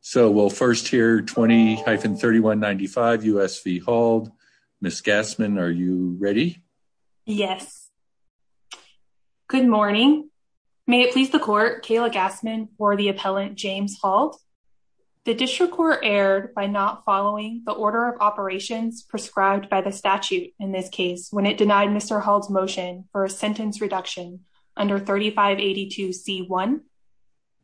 So we'll first hear 20-3195 U.S. v. Hald. Ms. Gassman, are you ready? Yes. Good morning. May it please the court, Kayla Gassman for the appellant James Hald. The district court erred by not following the order of operations prescribed by the statute in this case when it denied Mr. Hald's motion for a sentence reduction under 3582c1.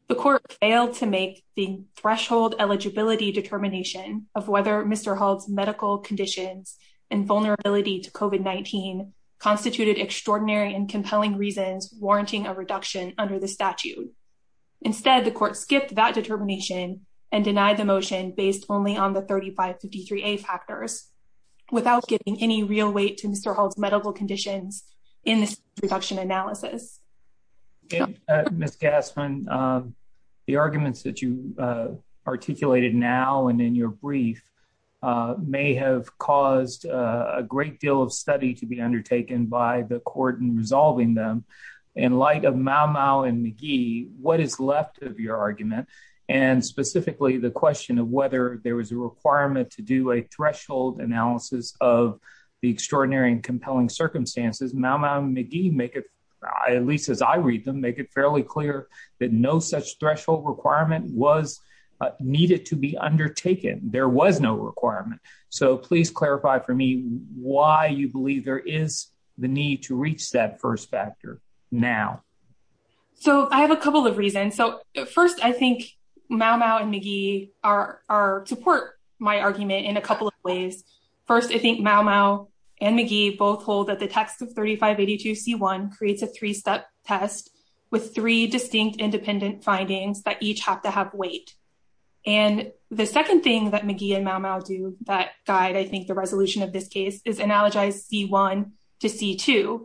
The court failed to make the threshold eligibility determination of whether Mr. Hald's medical conditions and vulnerability to COVID-19 constituted extraordinary and compelling reasons warranting a reduction under the statute. Instead, the court skipped that determination and denied the motion based only on the 3553a factors without giving any real weight to Mr. Hald's medical conditions in this reduction analysis. Ms. Gassman, the arguments that you articulated now and in your brief may have caused a great deal of study to be undertaken by the court in resolving them. In light of Mau-Mau and McGee, what is left of your argument and specifically the question of whether there was a requirement to do a threshold analysis of the extraordinary and compelling circumstances, Mau-Mau and McGee, at least as I read them, make it fairly clear that no such threshold requirement was needed to be undertaken. There was no requirement. So please clarify for me why you believe there is the need to reach that first factor now. So I have a couple of reasons. So first, I think Mau-Mau and McGee support my argument in a couple of ways. First, I think Mau-Mau and McGee both hold that the text of 3582c1 creates a three-step test with three distinct independent findings that each have to have weight. And the second thing that McGee and Mau-Mau do that guide, I think, the resolution of this case is analogize C1 to C2.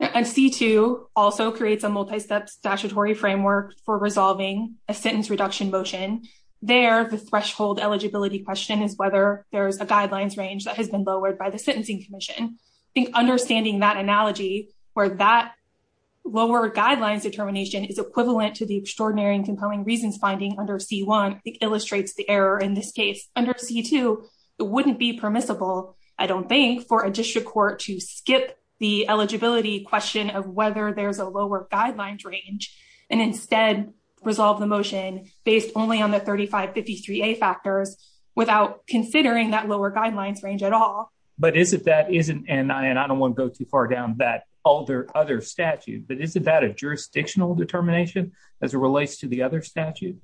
And C2 also creates a multi-step statutory framework for resolving a sentence reduction motion. There, the threshold eligibility question is whether there is a guidelines range that has been lowered by the Sentencing Commission. I think understanding that analogy where that lower guidelines determination is equivalent to the extraordinary and compelling reasons finding under C1, I think, illustrates the error in this case. Under C2, it wouldn't be permissible, I don't think, for a district court to skip the eligibility question of whether there's a lower guidelines range and instead resolve the motion based only on the 3553a factors without considering that lower guidelines range at all. But is it that isn't, and I don't want to go too far down that other statute, but isn't that a jurisdictional determination as it relates to the other statute?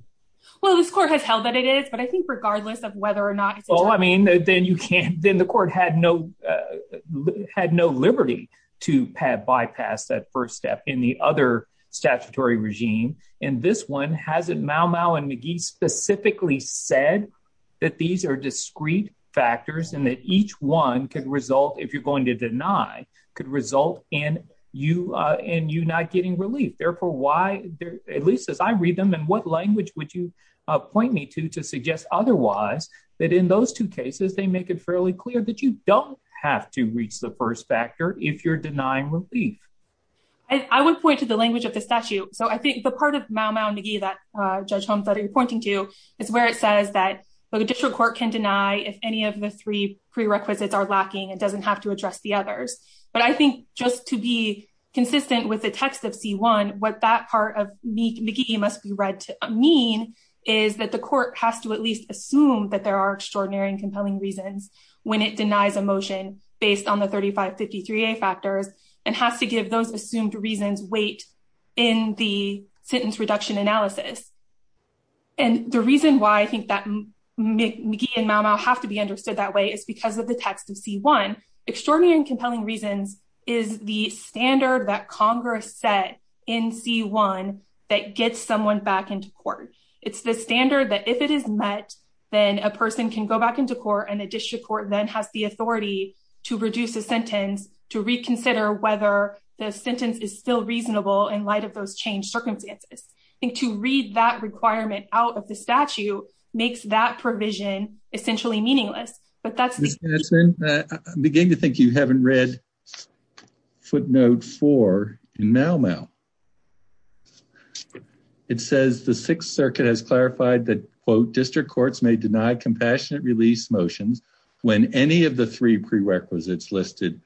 Well, this court has held that it is, but I think regardless of whether or not- Well, I mean, then you can't, then the court had no liberty to bypass that first step in the other statutory regime. And this one, hasn't Mau-Mau and McGee specifically said that these are discrete factors and that each one could result, if you're going to deny, could result in you not getting relief. Therefore, why, at least as I read them, in what language would you point me to to suggest otherwise that in those two cases, they make it fairly clear that you don't have to reach the first factor if you're denying relief? I would point to the language of the statute. So I think the part of Mau-Mau and McGee that Judge Holmes that you're pointing to is where it says that the district court can deny if any of the three prerequisites are lacking, it doesn't have to address the others. But I think just to be consistent with the text of C1, what that part of McGee must be read to mean is that the court has to at least assume that there are extraordinary and compelling reasons when it denies a motion based on the 3553A factors and has to give those assumed reasons weight in the sentence reduction analysis. And the reason why I think that McGee and Mau-Mau have to be understood that way is because of the text of C1. Extraordinary and compelling reasons is the standard that Congress set in C1 that gets someone back into court. It's the standard that if it is met, then a person can go back into court and the district court then has the authority to reduce a sentence to reconsider whether the sentence is still reasonable in light of those changed circumstances. I think to read that requirement out of the statute makes that provision essentially meaningless. But that's it. I'm beginning to think you haven't read footnote four in Mau-Mau. It says the Sixth Circuit has clarified that quote district courts may deny compassionate release motions when any of the three prerequisites listed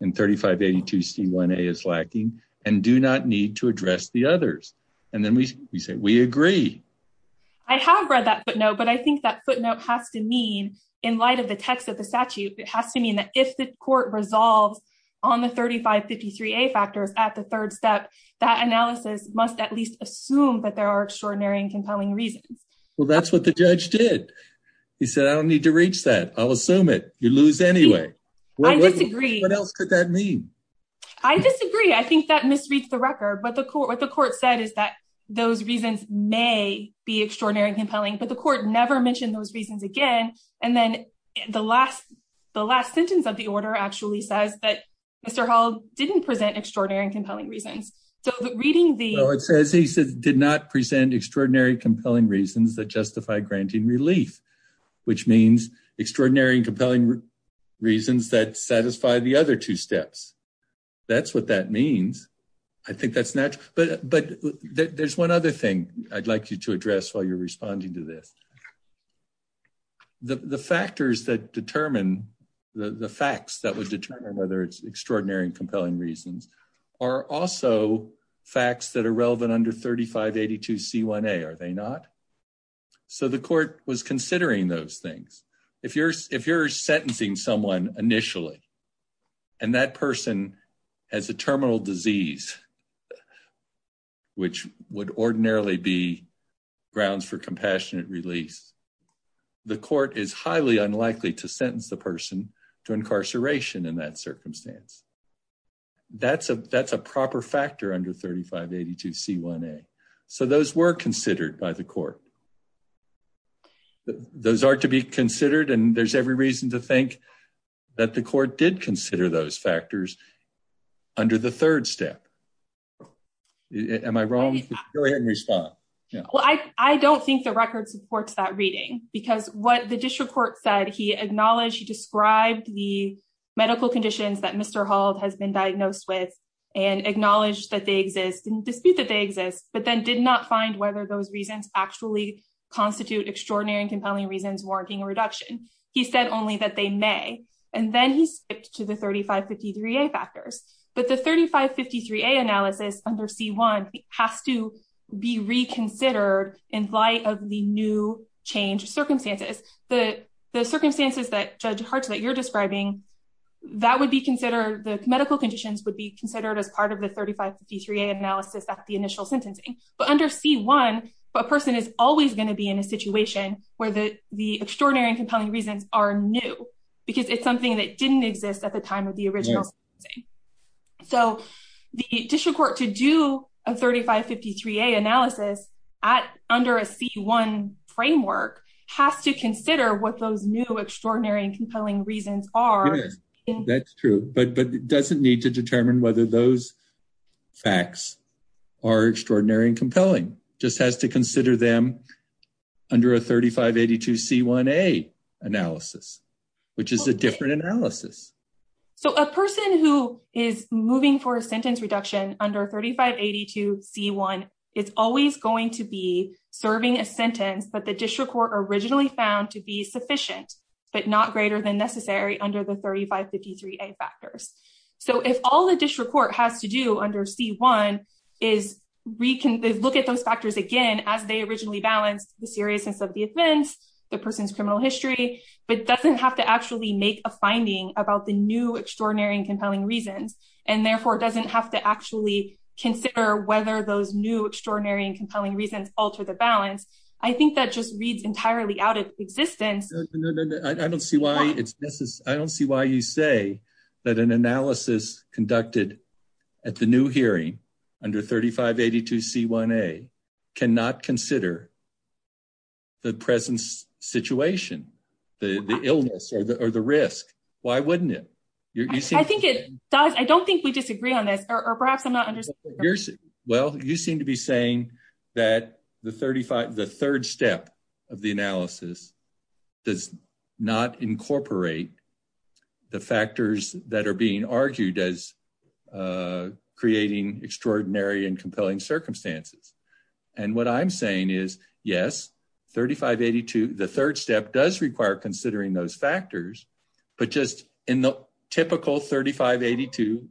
in 3582C1A is lacking and do not need to address the others. And then we say we agree. I have read that footnote, but I think that footnote has to mean in light of the text of the statute, it has to mean that if the court resolves on the 3553A factors at the third step, that analysis must at least assume that there are extraordinary and compelling reasons. Well, that's what the judge did. He said, I don't need to reach that. I'll assume it. You lose anyway. I disagree. What else could that mean? I disagree. I think that misreads the record, but the court, what the court said is that those reasons may be extraordinary and compelling, but the court never mentioned those reasons again. And then the last, the last sentence of the order actually says that Mr. Hall didn't present extraordinary and compelling reasons. So reading the, it says, he said, did not present extraordinary, compelling reasons that justify granting relief, which means extraordinary and compelling reasons that satisfy the other two steps. That's what that means. I think that's natural, but, but there's one other thing I'd like you to address while you're responding to this. The factors that determine the facts that would determine whether it's extraordinary and compelling reasons are also facts that are relevant under 3582 C1A, are they not? So the court was considering those things. If you're, if you're sentencing someone initially, and that person has a terminal disease, which would ordinarily be grounds for compassionate release, the court is highly unlikely to sentence the person to incarceration in that circumstance. That's a, that's a proper factor under 3582 C1A. So those were considered by the court. Those are to be considered, and there's every reason to think that the court did consider those factors under the third step. Am I wrong? Go ahead and respond. Yeah. Well, I, I don't think the record supports that reading because what the district court said, he acknowledged, he described the medical conditions that Mr. Hull has been diagnosed with and acknowledged that they exist and dispute that they exist, but then did not find whether those reasons actually constitute extraordinary and compelling reasons, warranting a reduction. He said only that they may, and then he skipped to the 3553A factors, but the 3553A analysis under C1 has to be reconsidered in light of the new change circumstances. The, the circumstances that Judge Hart that you're describing, that would be considered, the medical conditions would be considered as part of the 3553A analysis at the initial sentencing, but under C1, a person is always going to be in a situation where the, the extraordinary and compelling reasons are new because it's something that didn't exist at the time of the original sentence. So the district court to do a 3553A analysis at, under a C1 framework has to consider what those new extraordinary and compelling reasons are. That's true, but, but it doesn't need to determine whether those facts are extraordinary and compelling, just has to consider them under a 3582C1A analysis, which is a different analysis. So a person who is moving for a sentence reduction under 3582C1 is always going to be serving a sentence, but the district court originally found to be sufficient, but not greater than necessary under the 3553A factors. So if all the district court has to do under C1 is recon, look at those factors again, as they originally balanced the seriousness of the the person's criminal history, but doesn't have to actually make a finding about the new extraordinary and compelling reasons. And therefore it doesn't have to actually consider whether those new extraordinary and compelling reasons alter the balance. I think that just reads entirely out of existence. I don't see why it's necessary. I don't see why you say that an analysis conducted at the new hearing under 3582C1A cannot consider the present situation, the illness or the, or the risk. Why wouldn't it? I think it does. I don't think we disagree on this or perhaps I'm not understanding. Well, you seem to be saying that the 35, the third step of the analysis does not incorporate the factors that are being argued as creating extraordinary and compelling circumstances. And what I'm saying is yes, 3582, the third step does require considering those factors, but just in the typical 3582,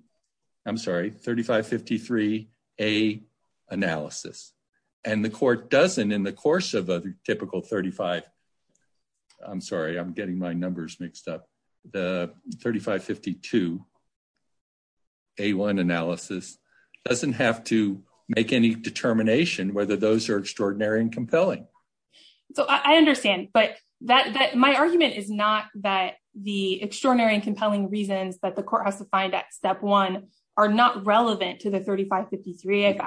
I'm sorry, 3553A analysis, and the court doesn't in the typical 35, I'm sorry, I'm getting my numbers mixed up. The 3552A1 analysis doesn't have to make any determination whether those are extraordinary and compelling. So I understand, but that, that my argument is not that the extraordinary and compelling reasons that the court has to find that step one are not relevant to the 3553A.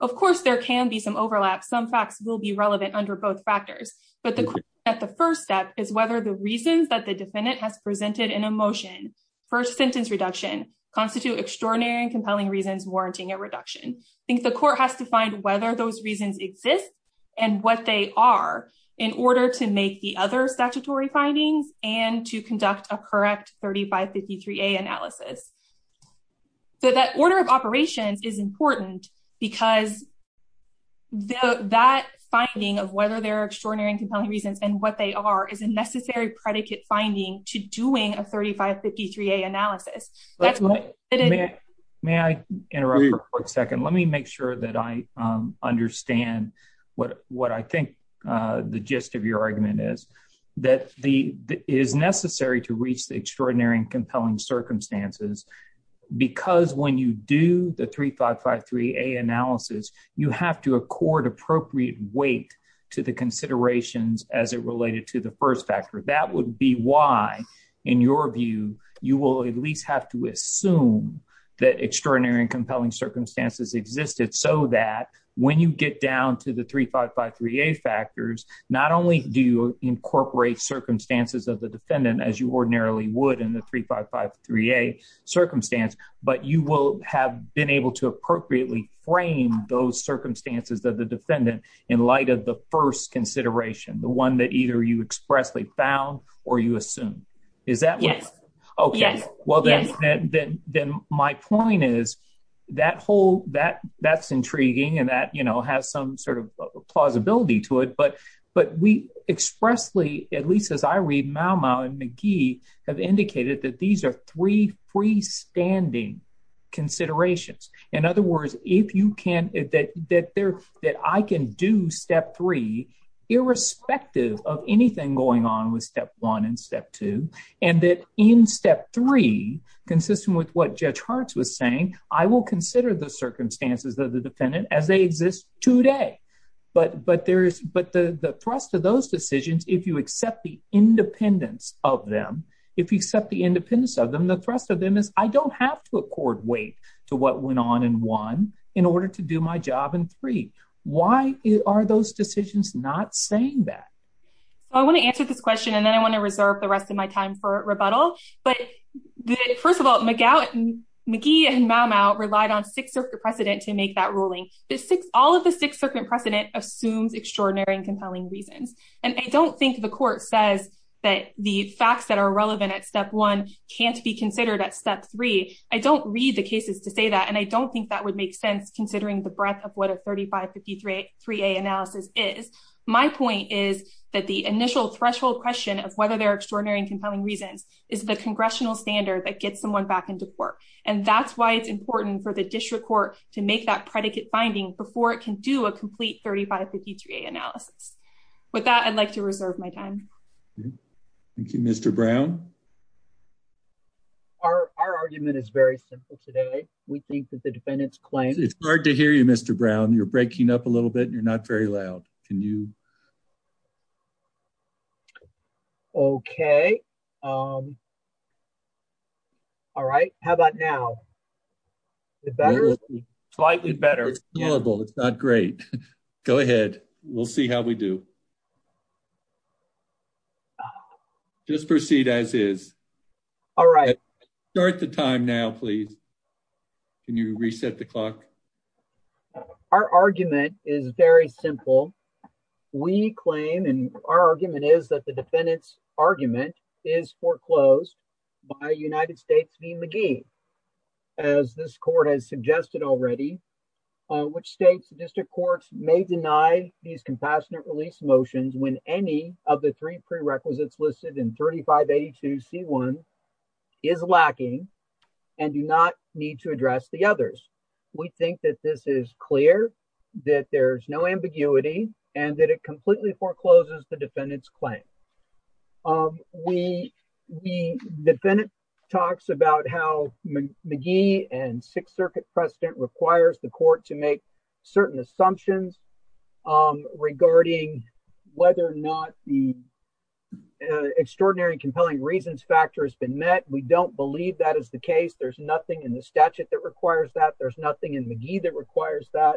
Of course, there can be some overlap. Some facts will be relevant under both factors, but the question at the first step is whether the reasons that the defendant has presented in a motion for sentence reduction constitute extraordinary and compelling reasons, warranting a reduction. I think the court has to find whether those reasons exist and what they are in order to make the other statutory findings and to conduct a correct 3553A analysis. So that order of operations is important because that finding of whether they're extraordinary and compelling reasons and what they are is a necessary predicate finding to doing a 3553A analysis. May I interrupt for a quick second? Let me make sure that I understand what, what I think the gist of your argument is, that the, is necessary to reach the extraordinary and compelling circumstances because when you do the 3553A analysis, you have to accord appropriate weight to the considerations as it related to the first factor. That would be why in your view, you will at least have to assume that extraordinary and compelling circumstances existed so that when you get down to the 3553A factors, not only do you incorporate circumstances of the defendant as you ordinarily would in the 3553A circumstance, but you will have been able to appropriately frame those circumstances that the defendant in light of the first consideration, the one that either you expressly found or you assume. Is that right? Yes. Okay. Well, then, then, then my point is that whole, that, that's intriguing and that, you know, has some sort of plausibility to it, but, but we expressly, at least as I read, McGee have indicated that these are three freestanding considerations. In other words, if you can, that, that there, that I can do step three, irrespective of anything going on with step one and step two, and that in step three, consistent with what Judge Hartz was saying, I will consider the circumstances of the defendant as they exist today. But, but there's, but the, the thrust of those decisions, if you accept the independence of them, if you accept the independence of them, the thrust of them is I don't have to accord weight to what went on in one in order to do my job in three. Why are those decisions not saying that? I want to answer this question and then I want to reserve the rest of my time for rebuttal. But first of all, McGee and Maumau relied on Sixth Circuit precedent to make that ruling. The Sixth, all of the Sixth Circuit precedent assumes extraordinary and compelling reasons. And I don't think the court says that the facts that are relevant at step one can't be considered at step three. I don't read the cases to say that. And I don't think that would make sense considering the breadth of what a 3553A analysis is. My point is that the initial threshold question of whether they're extraordinary and compelling reasons is the congressional standard that gets someone back into court. And that's why it's important for the district court to make that predicate finding before it can do a complete 3553A analysis. With that, I'd like to reserve my time. Thank you, Mr. Brown. Our argument is very simple today. We think that the defendant's claim... It's hard to hear you, Mr. Brown. You're breaking up a little bit. You're not very loud. Can you... Okay. All right. How about now? Is it better? Slightly better. It's not great. Go ahead. We'll see how we do. Just proceed as is. All right. Start the time now, please. Can you reset the clock? Our argument is very simple. We claim and our argument is that the foreclosed by United States v. McGee, as this court has suggested already, which states the district courts may deny these compassionate release motions when any of the three prerequisites listed in 3582C1 is lacking and do not need to address the others. We think that this is clear, that there's no ambiguity, and that it completely forecloses the defendant's claim. The defendant talks about how McGee and Sixth Circuit precedent requires the court to make certain assumptions regarding whether or not the extraordinary and compelling reasons factor has been met. We don't believe that is the case. There's nothing in the statute that requires that. There's nothing in McGee that requires that.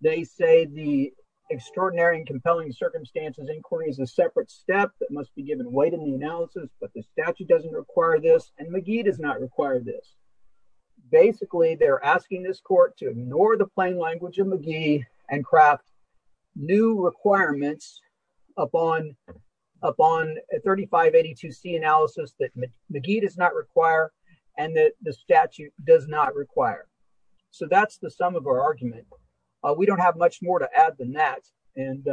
They say the extraordinary and compelling circumstances inquiry is a separate step that must be given weight in the analysis, but the statute doesn't require this, and McGee does not require this. Basically, they're asking this court to ignore the plain language of McGee and craft new requirements upon a 3582C analysis that McGee does not require and that the statute does not require. So that's the sum of our argument. We don't have much more to add than that, and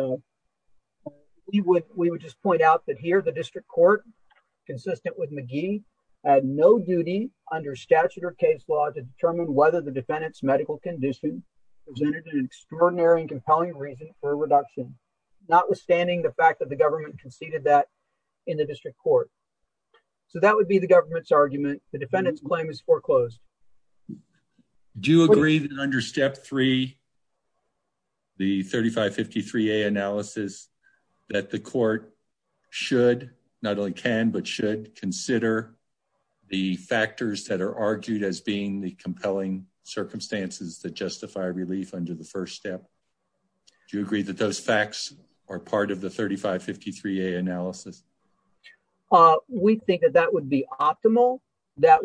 we would just point out that here the district court, consistent with McGee, had no duty under statute or case law to determine whether the defendant's medical condition presented an extraordinary and compelling reason for a reduction, notwithstanding the fact that the government conceded that in the district court. So that would be the government's argument. The defendant's claim is foreclosed. Do you agree that under step three, the 3553A analysis that the court should, not only can, but should consider the factors that are argued as being the compelling circumstances that justify relief under the first step? Do you agree that those facts are part of the 3553A analysis? We think that that would be optimal. That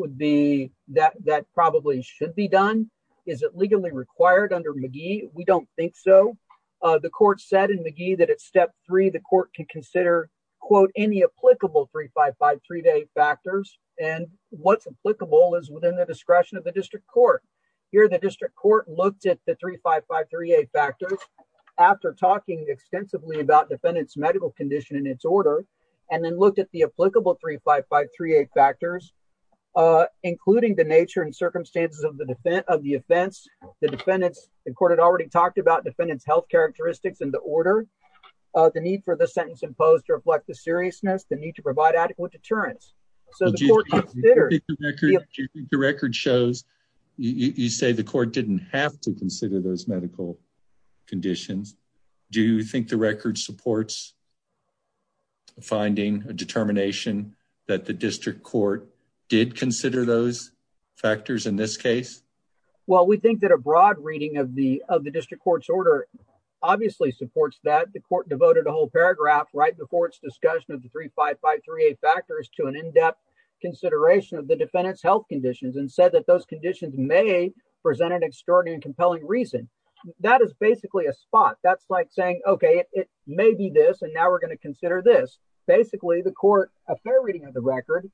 probably should be done. Is it legally required under McGee? We don't think so. The court said in McGee that at step three, the court could consider, quote, any applicable 3553A factors, and what's applicable is within the discretion of the district court. Here, the district court looked at the 3553A factors. After talking extensively about defendant's medical condition in its order, and then looked at the applicable 3553A factors, including the nature and circumstances of the offense, the defendant's, the court had already talked about defendant's health characteristics in the order, the need for the sentence imposed to reflect the seriousness, the need to provide adequate deterrence. So the court considered. Do you think the record shows, you say the court didn't have to consider those medical conditions? Do you think the record supports finding a determination that the district court did consider those factors in this case? Well, we think that a broad reading of the district court's order obviously supports that. The court devoted a whole paragraph right before its discussion of the 3553A factors to an in-depth consideration of the defendant's health conditions, and said that those conditions may present an extraordinary and compelling reason. That is basically a spot. That's like saying, okay, it may be this, and now we're going to consider this. Basically, the court, a fair reading of the record,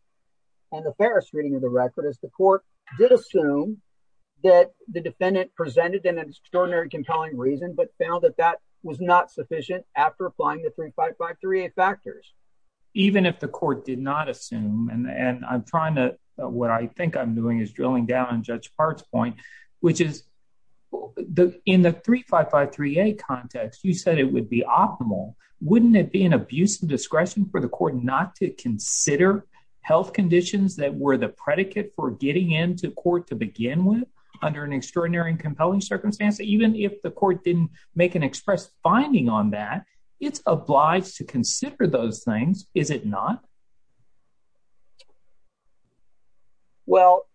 and the fairest reading of the record is the court did assume that the defendant presented an extraordinary compelling reason, but found that that was not sufficient after applying the 3553A factors. Even if the court did not assume, and I'm trying to, what I think I'm doing is drilling down on Hart's point, which is in the 3553A context, you said it would be optimal. Wouldn't it be an abuse of discretion for the court not to consider health conditions that were the predicate for getting into court to begin with under an extraordinary and compelling circumstance? Even if the court didn't make an express finding on that, it's obliged to consider those things, is it not? Well,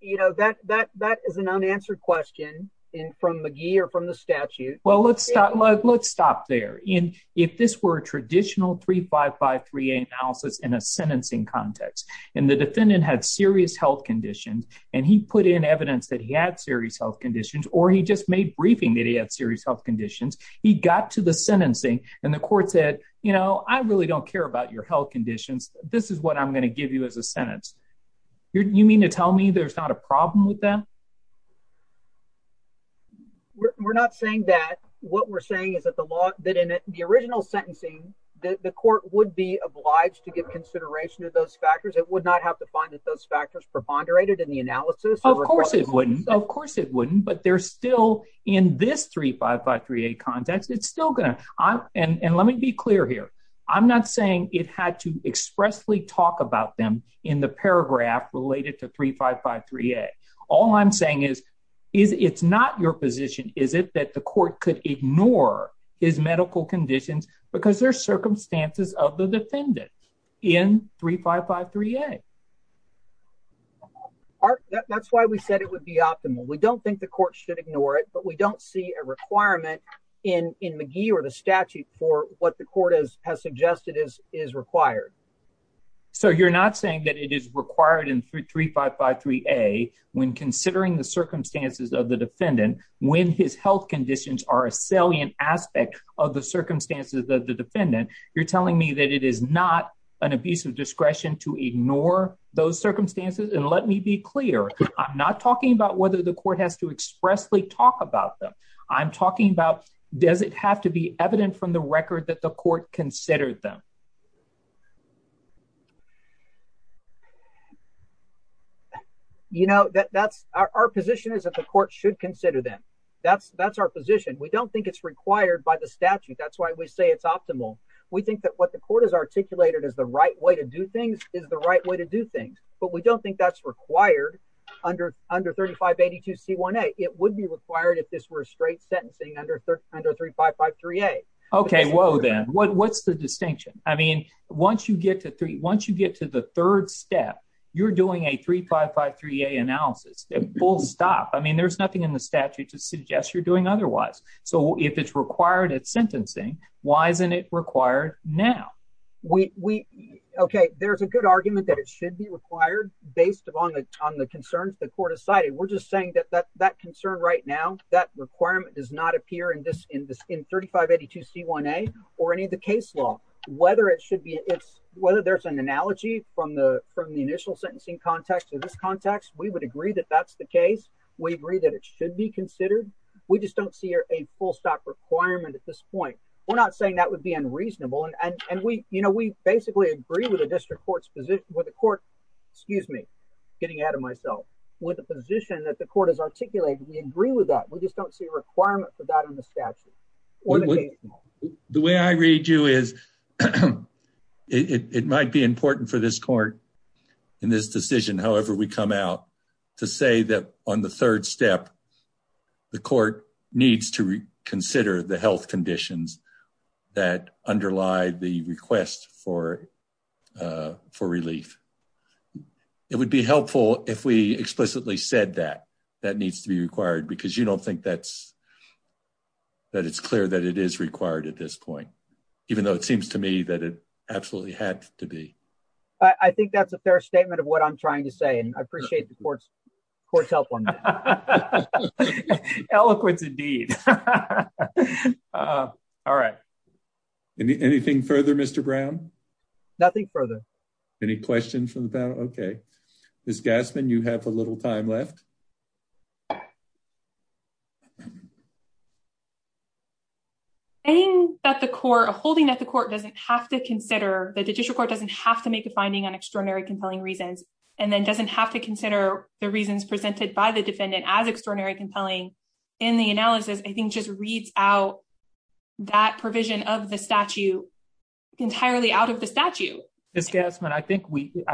that is an unanswered question from McGee or from the statute. Well, let's stop there. If this were a traditional 3553A analysis in a sentencing context, and the defendant had serious health conditions, and he put in evidence that he had serious health conditions, or he just made briefing that he had serious health conditions, he got to the sentencing and the court said, you know, I really don't care about your health conditions. This is what I'm going to give you as a sentence. You mean to tell me there's not a problem with that? We're not saying that. What we're saying is that the law, that in the original sentencing, that the court would be obliged to give consideration to those factors. It would not have to find that those factors preponderated in the analysis. Of course it wouldn't. Of course and let me be clear here. I'm not saying it had to expressly talk about them in the paragraph related to 3553A. All I'm saying is it's not your position, is it, that the court could ignore his medical conditions because there's circumstances of the defendant in 3553A. That's why we said it would be optimal. We don't think the court should ignore it, we don't see a requirement in McGee or the statute for what the court has suggested is required. So you're not saying that it is required in 3553A when considering the circumstances of the defendant, when his health conditions are a salient aspect of the circumstances of the defendant, you're telling me that it is not an abuse of discretion to ignore those circumstances? And let me be clear, I'm not talking about whether the court has to expressly talk about them. I'm talking about does it have to be evident from the record that the court considered them? You know that that's our position is that the court should consider them. That's that's our position. We don't think it's required by the statute. That's why we say it's optimal. We think that what the court has articulated as the right way to do things is the right way to do things. But we don't think that's required under 3582C1A. It would be required if this were straight sentencing under 3553A. Okay, whoa then, what's the distinction? I mean, once you get to three, once you get to the third step, you're doing a 3553A analysis, full stop. I mean, there's nothing in the statute to suggest you're doing otherwise. So if it's required at sentencing, why isn't it required now? Okay, there's a good argument that it should be required based upon the concerns the court has cited. We're just saying that that concern right now, that requirement does not appear in 3582C1A or any of the case law. Whether it should be, whether there's an analogy from the initial sentencing context to this context, we would agree that that's the case. We agree that it should be full stop requirement at this point. We're not saying that would be unreasonable. And we basically agree with the district court's position, with the court, excuse me, getting ahead of myself, with the position that the court has articulated. We agree with that. We just don't see a requirement for that in the statute. The way I read you is it might be important for this court in this decision, however we come out, to say that on the third step, the court needs to consider the health conditions that underlie the request for relief. It would be helpful if we explicitly said that that needs to be required because you don't think that it's clear that it is required at this point, even though it seems to me that it had to be. I think that's a fair statement of what I'm trying to say. And I appreciate the court's help on that. Eloquence indeed. All right. Anything further, Mr. Brown? Nothing further. Any questions from the panel? Okay. Ms. Gassman, you have a little time left. Saying that the court, holding that the court doesn't have to consider, that the district court doesn't have to make a finding on extraordinary compelling reasons, and then doesn't have to consider the reasons presented by the defendant as extraordinary compelling in the analysis, I think just reads out that provision of the statute entirely out of the statute. Ms. Gassman, I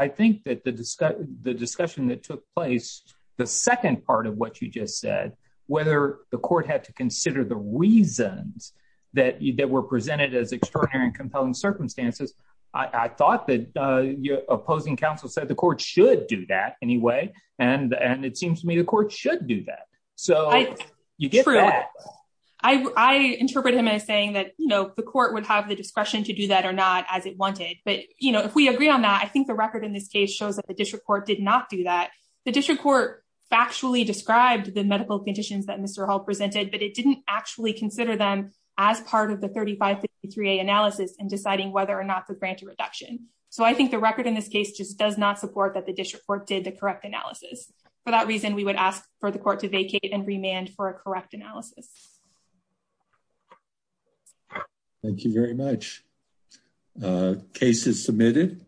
think that the discussion that took place, the second part of what you just said, whether the court had to consider the reasons that were presented as extraordinary and compelling circumstances, I thought that your opposing counsel said the court should do that anyway. And it seems to me the court should do that. So you get that. I interpret him as saying that the court would have the discretion to do that or not as it wanted. But if we agree on that, I think the record in this case shows that the court factually described the medical conditions that Mr. Hall presented, but it didn't actually consider them as part of the 3553A analysis in deciding whether or not to grant a reduction. So I think the record in this case just does not support that the district court did the correct analysis. For that reason, we would ask for the court to vacate and remand for a correct analysis. Thank you very much. Case is submitted.